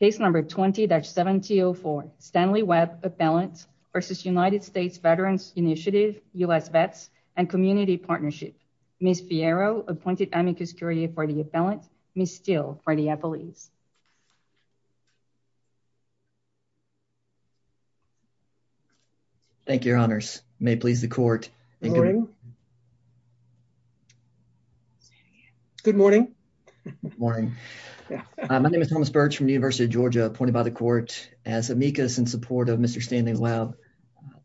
case number 20-7204 Stanley Webb appellant versus United States Veterans Initiative U.S. Vets and Community Partnership. Ms. Fierro appointed Amicus Curia for the appellant, Ms. Steele for the appellees. Thank you, your honors. May it please the court. Good morning. Good morning. Good morning. My name is Thomas Birch from the University of Georgia appointed by the court as Amicus in support of Mr. Stanley Webb.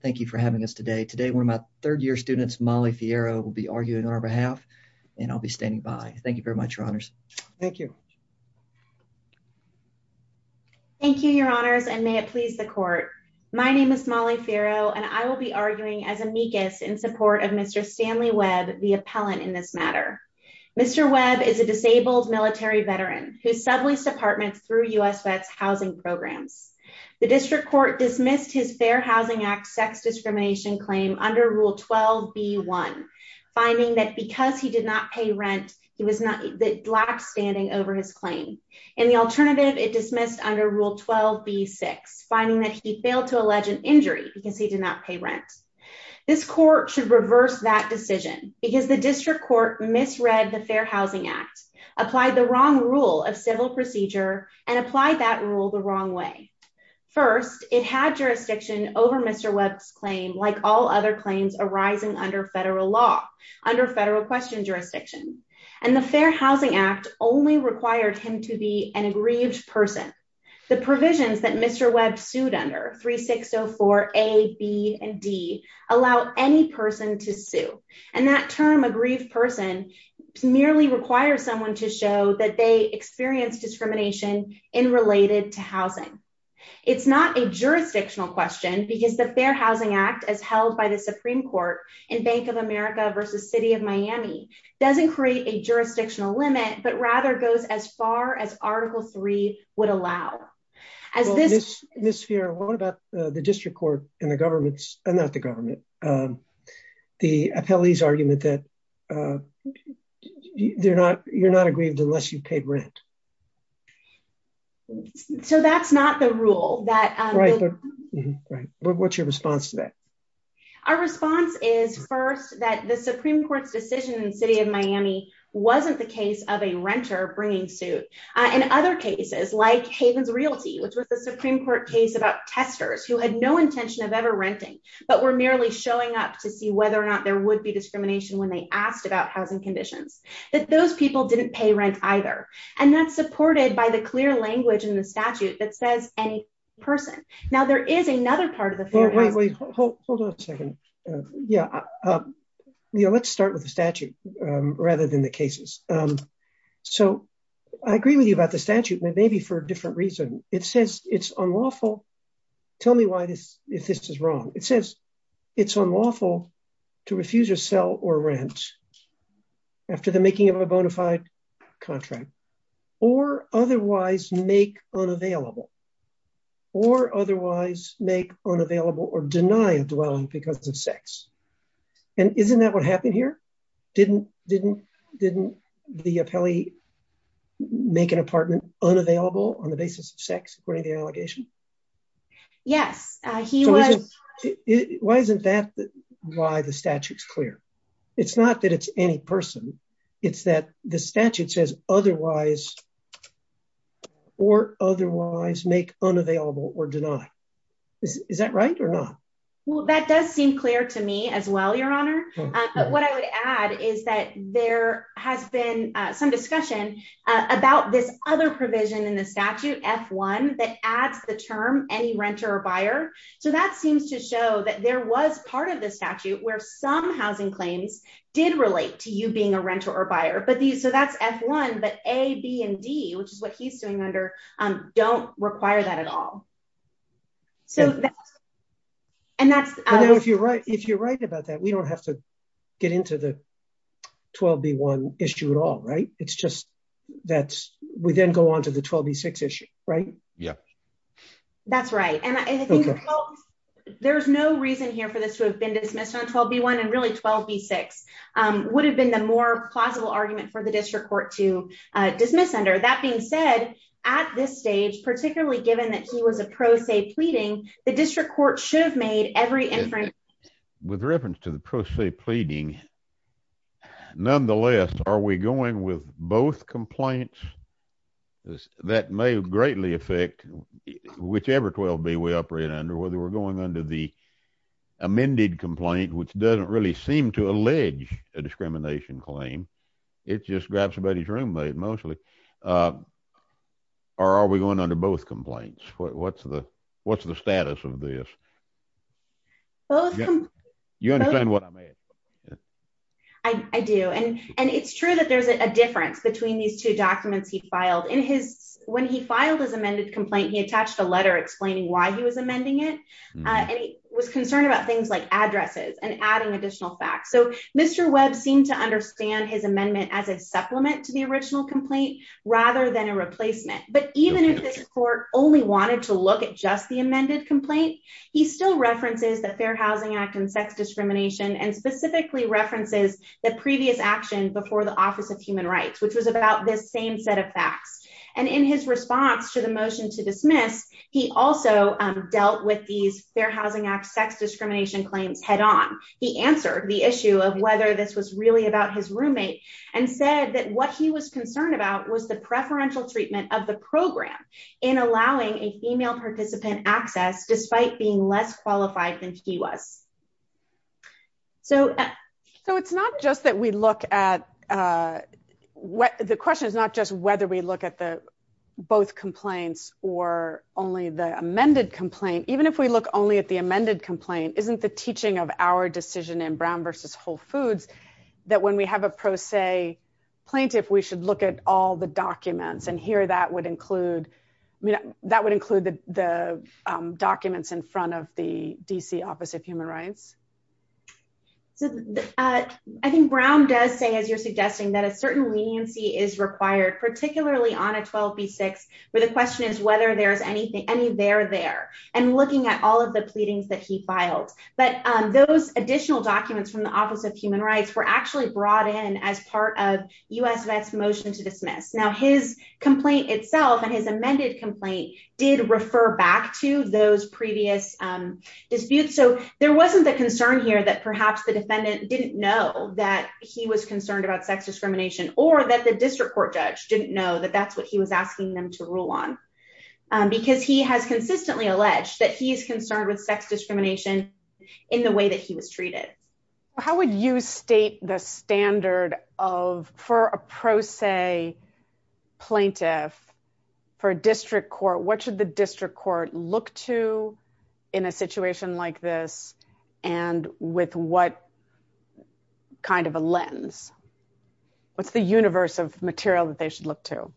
Thank you for having us today. Today one of my third year students, Molly Fierro, will be arguing on our behalf and I'll be standing by. Thank you very much, your honors. Thank you. Thank you, your honors and may it please the court. My name is Molly Fierro and I will be of Mr. Stanley Webb, the appellant in this matter. Mr. Webb is a disabled military veteran who subways departments through U.S. Vets housing programs. The district court dismissed his Fair Housing Act sex discrimination claim under Rule 12b-1, finding that because he did not pay rent, he was not the last standing over his claim. In the alternative, it dismissed under Rule 12b-6, finding that he failed to allege an injury because he did not pay rent. This court should reverse that decision because the district court misread the Fair Housing Act, applied the wrong rule of civil procedure, and applied that rule the wrong way. First, it had jurisdiction over Mr. Webb's claim like all other claims arising under federal law, under federal question jurisdiction, and the Fair Housing Act only required him to be an 3604A, B, and D, allow any person to sue. And that term, a grieved person, merely requires someone to show that they experienced discrimination in related to housing. It's not a jurisdictional question because the Fair Housing Act, as held by the Supreme Court in Bank of America versus City of Miami, doesn't create a jurisdictional limit, but rather goes as far as Article 3 would allow. Ms. Fiora, what about the district court and the government's, not the government, the appellee's argument that you're not aggrieved unless you paid rent? So that's not the rule. What's your response to that? Our response is first, that the Supreme Court's decision in City of Miami wasn't the case of a in other cases like Havens Realty, which was the Supreme Court case about testers who had no intention of ever renting, but were merely showing up to see whether or not there would be discrimination when they asked about housing conditions, that those people didn't pay rent either. And that's supported by the clear language in the statute that says any person. Now there is another part of the Yeah. Let's start with the statute rather than the cases. So I agree with you about the statute, but maybe for a different reason. It says it's unlawful. Tell me why this, if this is wrong. It says it's unlawful to refuse a sell or rent after the making of a bona fide contract or otherwise make unavailable or otherwise make unavailable or deny a dwelling because of sex. And isn't that what happened here? Didn't, didn't, didn't the appellee make an apartment unavailable on the basis of sex, according to the allegation? Yes, he was. Why isn't that why the statute's clear? It's not that it's any person. It's that the statute says otherwise or otherwise make unavailable or deny. Is that right or not? Well, that does seem clear to me as well, your honor. But what I would add is that there has been some discussion about this other provision in the statute F1 that adds the term, any renter or buyer. So that seems to show that there was part of the statute where some housing claims did relate to you being a renter or buyer, so that's F1, but A, B and D, which is what he's doing under don't require that at all. So, and that's, if you're right, if you're right about that, we don't have to get into the 12B1 issue at all, right? It's just that we then go on to the 12B6 issue, right? Yeah, that's right. There's no reason here for this to have been dismissed on 12B1 and really 12B6 would have been the more plausible argument for the district court to dismiss under. That being said, at this stage, particularly given that he was a pro se pleading, the district court should have made every inference. With reference to the pro se pleading, nonetheless, are we going with both complaints? That may greatly affect whichever 12B we operate under, whether we're going under the amended complaint, which doesn't really seem to allege a discrimination claim, it just grabs somebody's room mate mostly, or are we going under both complaints? What's the status of this? You understand what I mean? I do, and it's true that there's a difference between these two documents he filed. When he filed his amended complaint, he attached a letter explaining why he was amending it, and he was concerned about things like addresses and adding additional facts. So Mr. Webb seemed to understand his amendment as a supplement to the original complaint rather than a replacement. But even if this court only wanted to look at just the amended complaint, he still references the Fair Housing Act and sex discrimination and specifically references the previous action before the Office of Human Rights, which was about this same set of facts. And in his response to the motion to dismiss, he also dealt with these Fair Housing Act sex discrimination claims head on. He answered the issue of whether this was really about his roommate and said that what he was concerned about was the preferential treatment of the program in allowing a female participant access despite being less qualified than he was. So it's not just that we look at – the question is not just whether we look at the both complaints or only the amended complaint. Even if we look only at the amended complaint, isn't the teaching of our decision in Brown v. Whole Foods that when we have a pro se plaintiff, we should look at all the documents? And here that would include – that would include the D.C. Office of Human Rights. So I think Brown does say, as you're suggesting, that a certain leniency is required, particularly on a 12b6, where the question is whether there's anything – any there there, and looking at all of the pleadings that he filed. But those additional documents from the Office of Human Rights were actually brought in as part of U.S. Vets' motion to dismiss. Now his complaint itself and his amended complaint did refer back to those previous disputes. So there wasn't the concern here that perhaps the defendant didn't know that he was concerned about sex discrimination or that the district court judge didn't know that that's what he was asking them to rule on. Because he has consistently alleged that he is concerned with sex discrimination in the way that he was treated. How would you state the standard of – for a pro se plaintiff, for a district court, what should the district court look to in a situation like this, and with what kind of a lens? What's the universe of material that they should look to?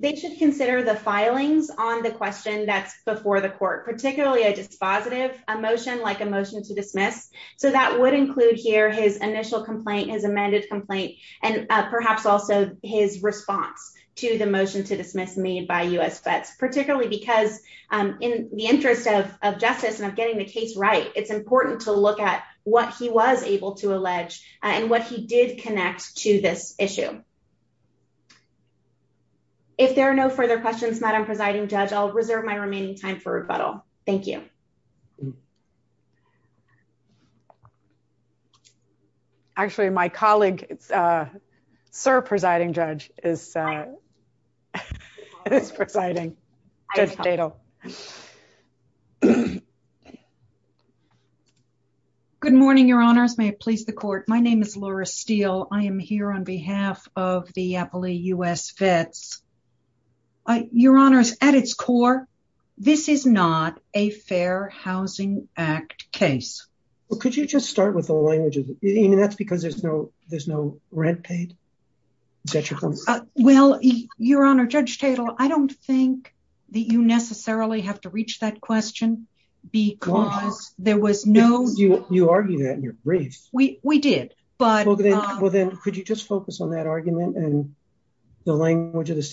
They should consider the filings on the question that's before the court, particularly a dispositive motion like a motion to dismiss. So that would include here his initial complaint, his amended complaint, and perhaps also his response to the motion to dismiss made by U.S. Vets, particularly because in the interest of justice and of getting the case right, it's important to look at what he was able to allege and what he did connect to this issue. If there are no further questions, Madam Presiding Judge, I'll reserve my remaining time for rebuttal. Thank you. Actually, my colleague, Sir Presiding Judge, is presiding. Judge Dadle. Good morning, Your Honors. May it please the court. My name is Laura Steele. I am here on behalf of a Fair Housing Act case. Well, could you just start with the language? I mean, that's because there's no rent paid. Is that your point? Well, Your Honor, Judge Dadle, I don't think that you necessarily have to reach that question because there was no... You argued that in your brief. We did, but... Well then, could you just focus on that argument and the language of the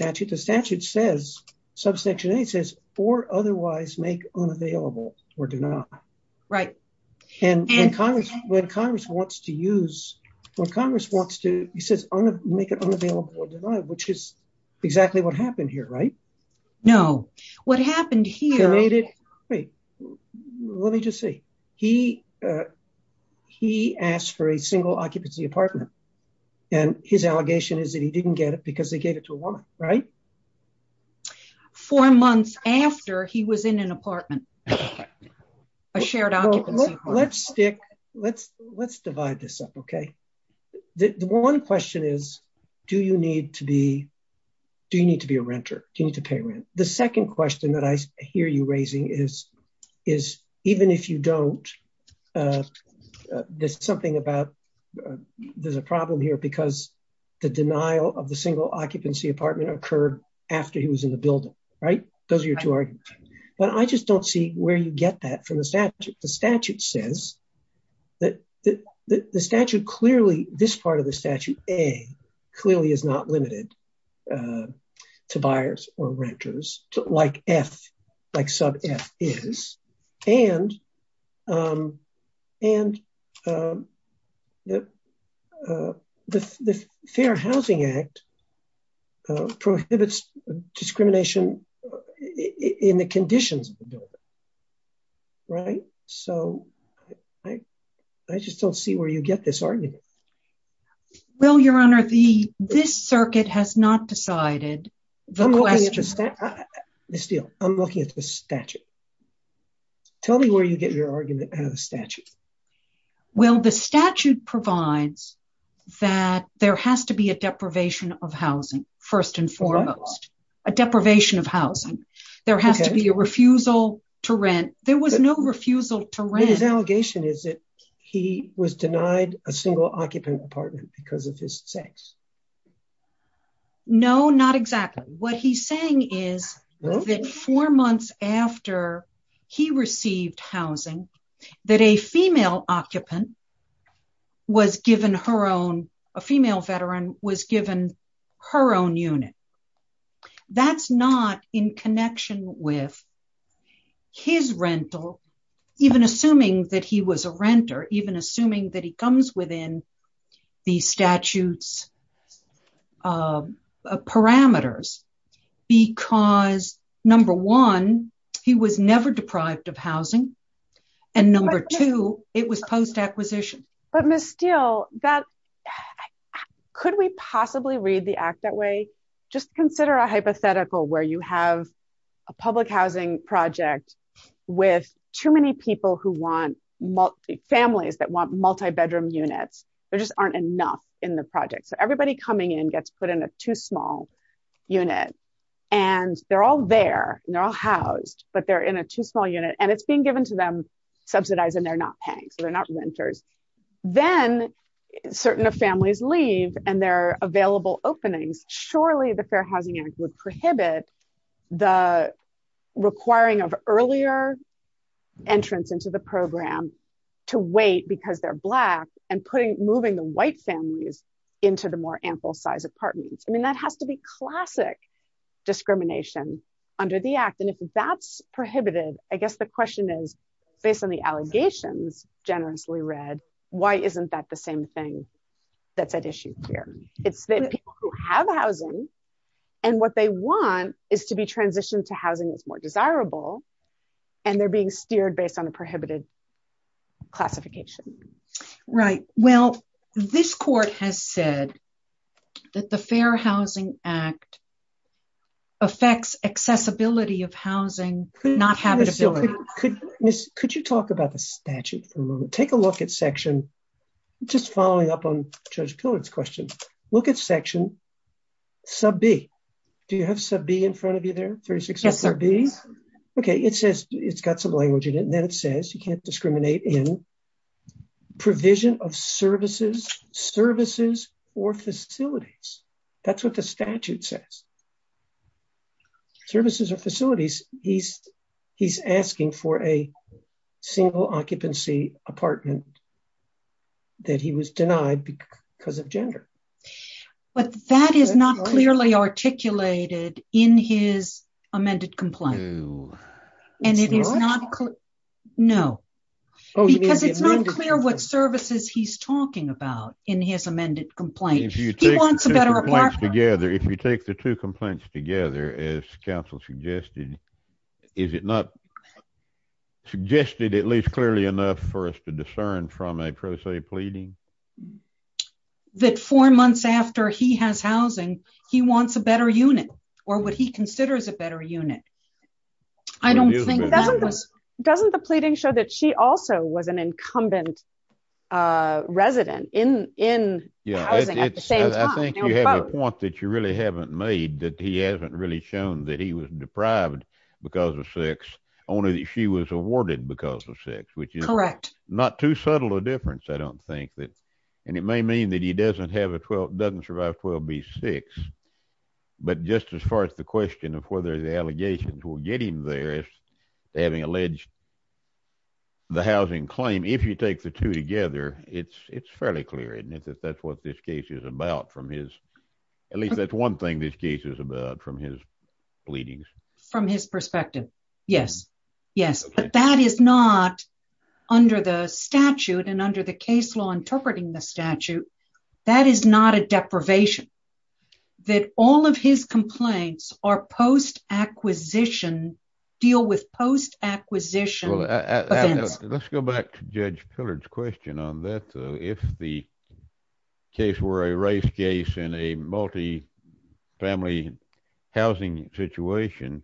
unavailable or denied? Right. And when Congress wants to use... When Congress wants to, he says, make it unavailable or denied, which is exactly what happened here, right? No. What happened here... Wait. Let me just see. He asked for a single occupancy apartment, and his allegation is that he didn't get it because they gave it to a woman, right? Four months after he was in an apartment, a shared occupancy apartment. Let's stick... Let's divide this up, okay? The one question is, do you need to be a renter? Do you need to pay rent? The second question that I hear you raising is, even if you don't, there's something about... Unavailable occupancy apartment occurred after he was in the building, right? Those are your two arguments. But I just don't see where you get that from the statute. The statute says that the statute clearly... This part of the statute, A, clearly is not limited to buyers or renters, like F, like sub F is. And the Fair Housing Act prohibits discrimination in the conditions of the building, right? So I just don't see where you get this argument. Well, Your Honor, the... This circuit has not decided the question. Ms. Steele, I'm looking at the statute. Tell me where you get your argument out of the statute. Well, the statute provides that there has to be a deprivation of housing, first and foremost. A deprivation of housing. There has to be a refusal to rent. There was no refusal to rent. His allegation is that he was denied a single occupant apartment because of his sex. No, not exactly. What he's saying is that four months after he received housing, that a female occupant was given her own... A female veteran was given her own unit. That's not in connection with his rental, even assuming that he was a renter, even assuming that he comes within the statute's parameters. Because number one, he was never deprived of housing. And number two, it was post-acquisition. But Ms. Steele, that... Could we possibly read the act that way? Just consider a hypothetical where you have a public housing project with too many people who want... Families that want multi-bedroom units. There just aren't enough in the project. So everybody coming in gets put in a too small unit, and they're all there, and they're all housed, but they're in a too small unit, and it's being given to them, subsidized, and they're not paying. So they're not renters. Then certain families leave, and there are available openings. Surely the Fair Housing Act would prohibit the requiring of earlier entrance into the program to wait because they're Black, and moving the White families into the more ample size apartments. I mean, that has to be classic discrimination under the act. And if that's prohibited, I guess the question is, based on the allegations generously read, why isn't that the same thing that's at issue here? It's that people who have housing, and what they want is to be transitioned to housing that's more desirable, and they're being steered based on a prohibited classification. Right. Well, this court has said that the Fair Housing Act affects accessibility of housing, not habitability. Could you talk about the statute for a moment? Take a look at section, just following up on Judge Pillard's question. Look at section sub B. Do you have sub B in front of you there? Yes, sir. Okay. It says it's got some language in it, and then it says you can't discriminate in provision of services, services, or facilities. That's what the statute says. Services or facilities. He's asking for a single occupancy apartment that he was denied because of gender. But that is not clearly articulated in his amended complaint. No. No. Because it's not clear what services he's talking about in his amended complaint. He wants a better apartment. If you take the two complaints together, as counsel suggested, is it not suggested at least clearly enough for us to discern from a pro se pleading? That four months after he has housing, he wants a better unit, or what he considers a better unit. Doesn't the pleading show that she also was an incumbent resident in housing at the same time? I think you have a point that you really haven't made, that he hasn't really shown that he was deprived because of sex, only that she was awarded because of sex, which is not too subtle a difference, I don't think. And it may mean that he doesn't survive 12B6, but just as far as the question of whether the allegations will get him there, having alleged the housing claim, if you take the two together, it's fairly clear, isn't it, that that's what this case is about from his, at least that's one thing this case is about from his pleadings. From his perspective. Yes. Yes. But that is not under the statute and under the case law interpreting the statute, that is not a deprivation. That all of his complaints are post acquisition, deal with acquisition. Let's go back to Judge Pillard's question on that. If the case were a race case in a multi-family housing situation,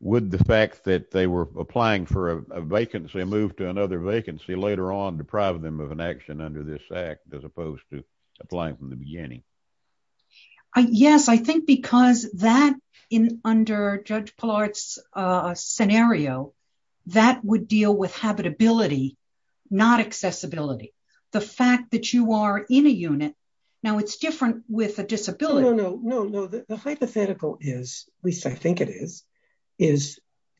would the fact that they were applying for a vacancy move to another vacancy later on deprive them of an action under this act as opposed to applying from the beginning? Yes, I think because that in under Judge Pillard's scenario, that would deal with habitability, not accessibility. The fact that you are in a unit, now it's different with a disability. No, no, no, no. The hypothetical is, at least I think it is, is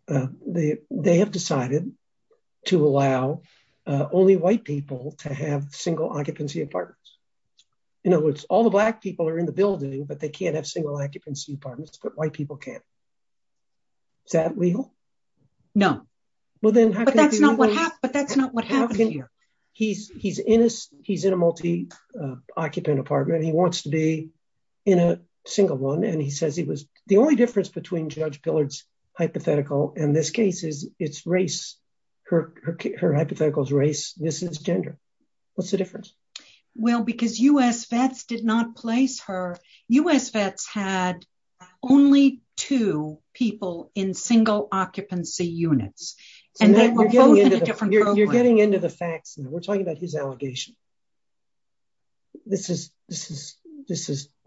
they have decided to allow only white people to have single occupancy apartments. In other words, all the black people are in the building, but they can't have single occupancy apartments, but white people can. Is that legal? No. But that's not what happened here. He's in a multi-occupant apartment. He wants to be in a single one. And he says he was, the only difference between Judge Pillard's hypothetical and this case is it's race. Her hypothetical is race. This is gender. What's the difference? Well, because U.S. vets did not place her, U.S. vets had only two people in single occupancy units. You're getting into the facts. We're talking about his allegation. This is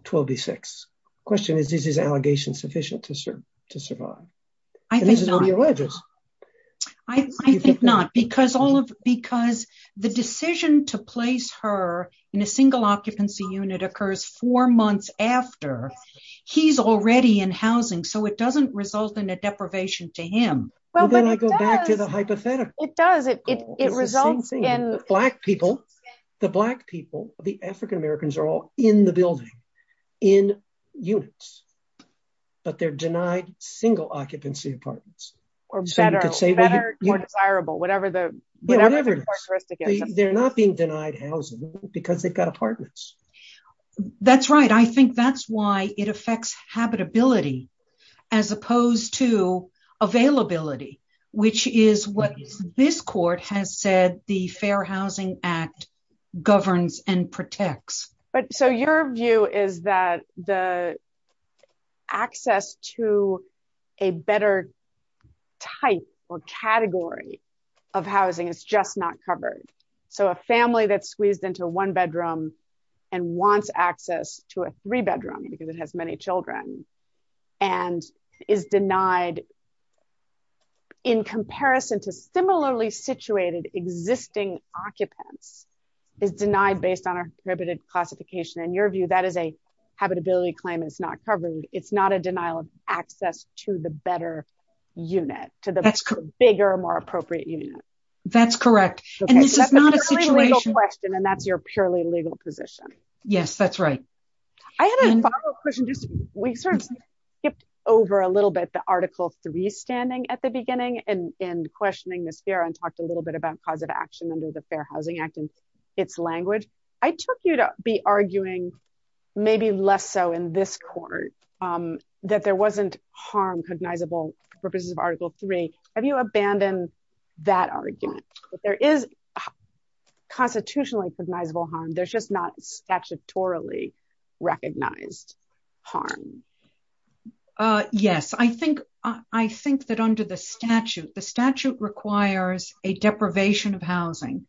12 v. 6. The question is, is his allegation sufficient to survive? I think not. Because the decision to place her in a single occupancy unit occurs four months after he's already in housing. So it doesn't result in a deprivation to him. Well, then I go back to the hypothetical. It does. It results in- Black people, the African Americans are all in the building, in units. But they're denied single occupancy apartments. Better or desirable, whatever the characteristic is. They're not being denied housing because they've got apartments. That's right. I think that's why it affects habitability as opposed to availability, which is what this court has said the Fair Housing Act governs and protects. So your view is that the access to a better type or category of housing is just not covered. So a family that's squeezed into one bedroom and wants access to a three-bedroom because it has many children and is denied in comparison to similarly situated existing occupants is denied based on a prohibited classification. In your view, that is a habitability claim. It's not covered. It's not a denial of access to the better unit, to the bigger, more appropriate unit. That's correct. And this is not a situation- That's a purely legal question and that's your purely legal position. Yes, that's right. I had a follow-up question. We sort of skipped over a little bit the Article 3 standing at the beginning and questioning this here and talked a little bit about cause of action under the Fair Housing Act. I took you to be arguing, maybe less so in this court, that there wasn't harm cognizable for purposes of Article 3. Have you abandoned that argument that there is constitutionally cognizable harm, there's just not statutorily recognized harm? Yes. I think that under the statute, the statute requires a deprivation of housing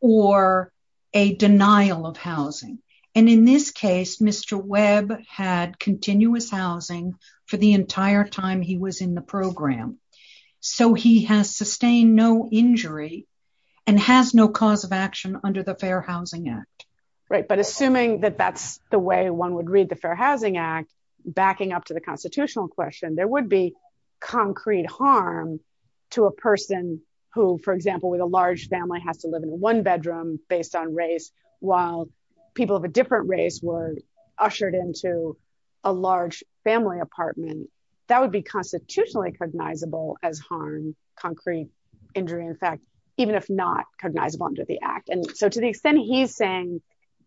or a denial of housing. And in this case, Mr. Webb had continuous housing for the entire time he was in the program. So he has sustained no injury and has no cause of action under the Fair Housing Act. Right. But assuming that that's the way one would read the Fair Housing Act, backing up to the constitutional question, there would be concrete harm to a person who, for example, with a large family has to live in a one-bedroom based on race, while people of a different race were ushered into a large family apartment, that would be constitutionally cognizable as harm, concrete injury, in fact, even if not cognizable under the Act. And so to the extent he's saying,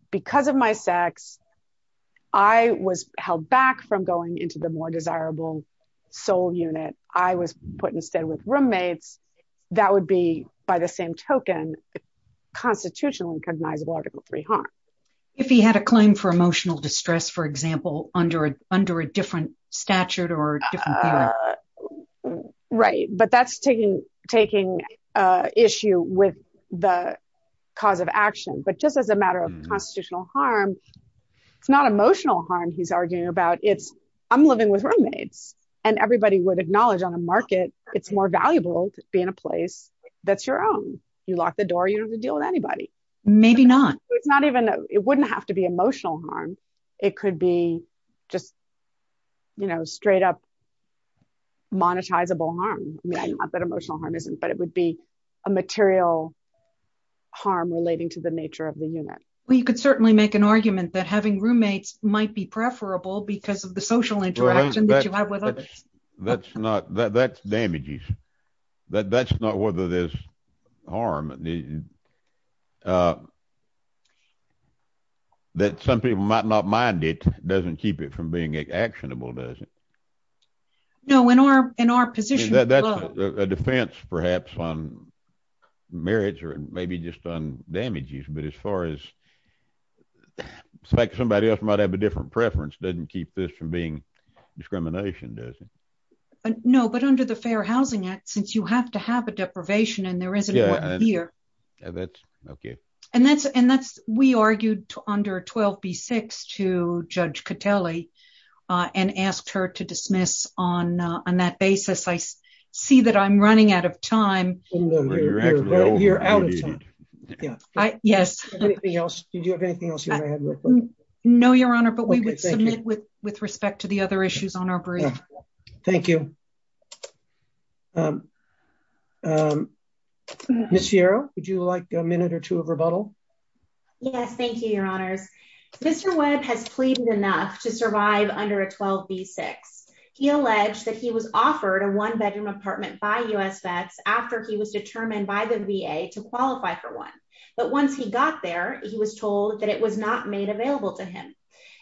because of my sex, I was held back from going into the by the same token, constitutionally cognizable Article III harm. If he had a claim for emotional distress, for example, under a different statute or different theory. Right. But that's taking issue with the cause of action. But just as a matter of constitutional harm, it's not emotional harm he's arguing about, it's, I'm living with roommates, and everybody would acknowledge on a market, it's more valuable to be in a place that's your own. You lock the door, you don't have to deal with anybody. Maybe not. It's not even, it wouldn't have to be emotional harm. It could be just, you know, straight up monetizable harm. Not that emotional harm isn't, but it would be a material harm relating to the nature of the unit. Well, you could certainly make an argument that having interaction that you have with others. That's not, that's damages. That's not whether there's harm. That some people might not mind it doesn't keep it from being actionable, does it? No, in our position. That's a defense, perhaps on marriage or maybe just on damages. But as far as somebody else might have a different preference, doesn't keep this from being discrimination, does it? No, but under the Fair Housing Act, since you have to have a deprivation, and there isn't one here. That's okay. And that's, and that's, we argued under 12b-6 to Judge Catelli, and asked her to dismiss on that basis. I see that I'm running out of time. You're out of time. Yes. Anything else? Do you have anything else? No, Your Honor, but we would submit with respect to the other issues on our brief. Thank you. Miss Sierra, would you like a minute or two of rebuttal? Yes, thank you, Your Honors. Mr. Webb has pleaded enough to survive under a 12b-6. He alleged that was offered a one-bedroom apartment by U.S. vets after he was determined by the VA to qualify for one. But once he got there, he was told that it was not made available to him.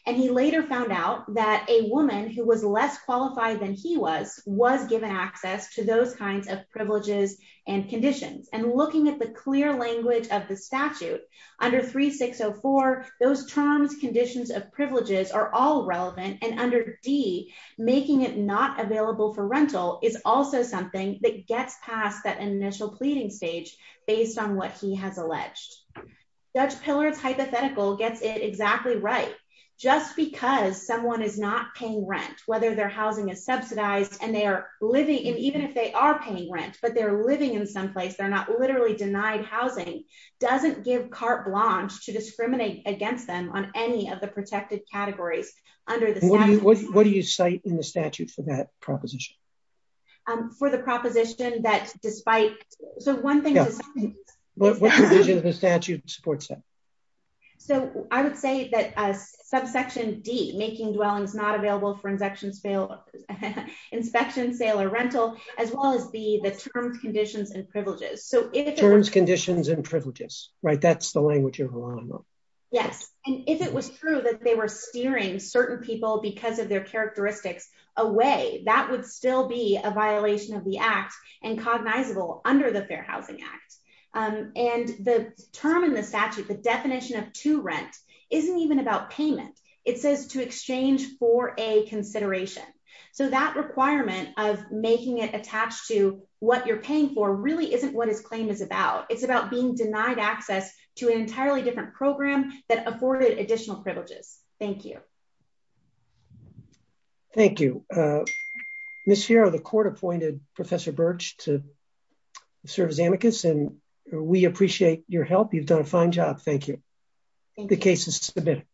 And he later found out that a woman who was less qualified than he was, was given access to those kinds of privileges and conditions. And looking at the clear language of the statute, under 3604, those terms, conditions of privileges are all relevant. And under D, making it not available for rental is also something that gets past that initial pleading stage based on what he has alleged. Judge Pillard's hypothetical gets it exactly right. Just because someone is not paying rent, whether their housing is subsidized, and they are living, and even if they are paying rent, but they're living in some place, they're not literally denied housing, doesn't give carte blanche to discriminate against them on any of the protected categories under the statute. What do you cite in the statute for that proposition? For the proposition that despite, so one thing. What provision of the statute supports that? So I would say that subsection D, making dwellings not available for inspection, sale, or rental, as well as the terms, conditions, and privileges. So if... Terms, conditions, and they were steering certain people because of their characteristics away, that would still be a violation of the act and cognizable under the Fair Housing Act. And the term in the statute, the definition of to rent, isn't even about payment. It says to exchange for a consideration. So that requirement of making it attached to what you're paying for really isn't what his claim is about. It's about being denied access to an entirely different program that afforded additional privileges. Thank you. Thank you. Ms. Ferro, the court appointed Professor Birch to serve as amicus and we appreciate your help. You've done a fine job. Thank you. The case is submitted.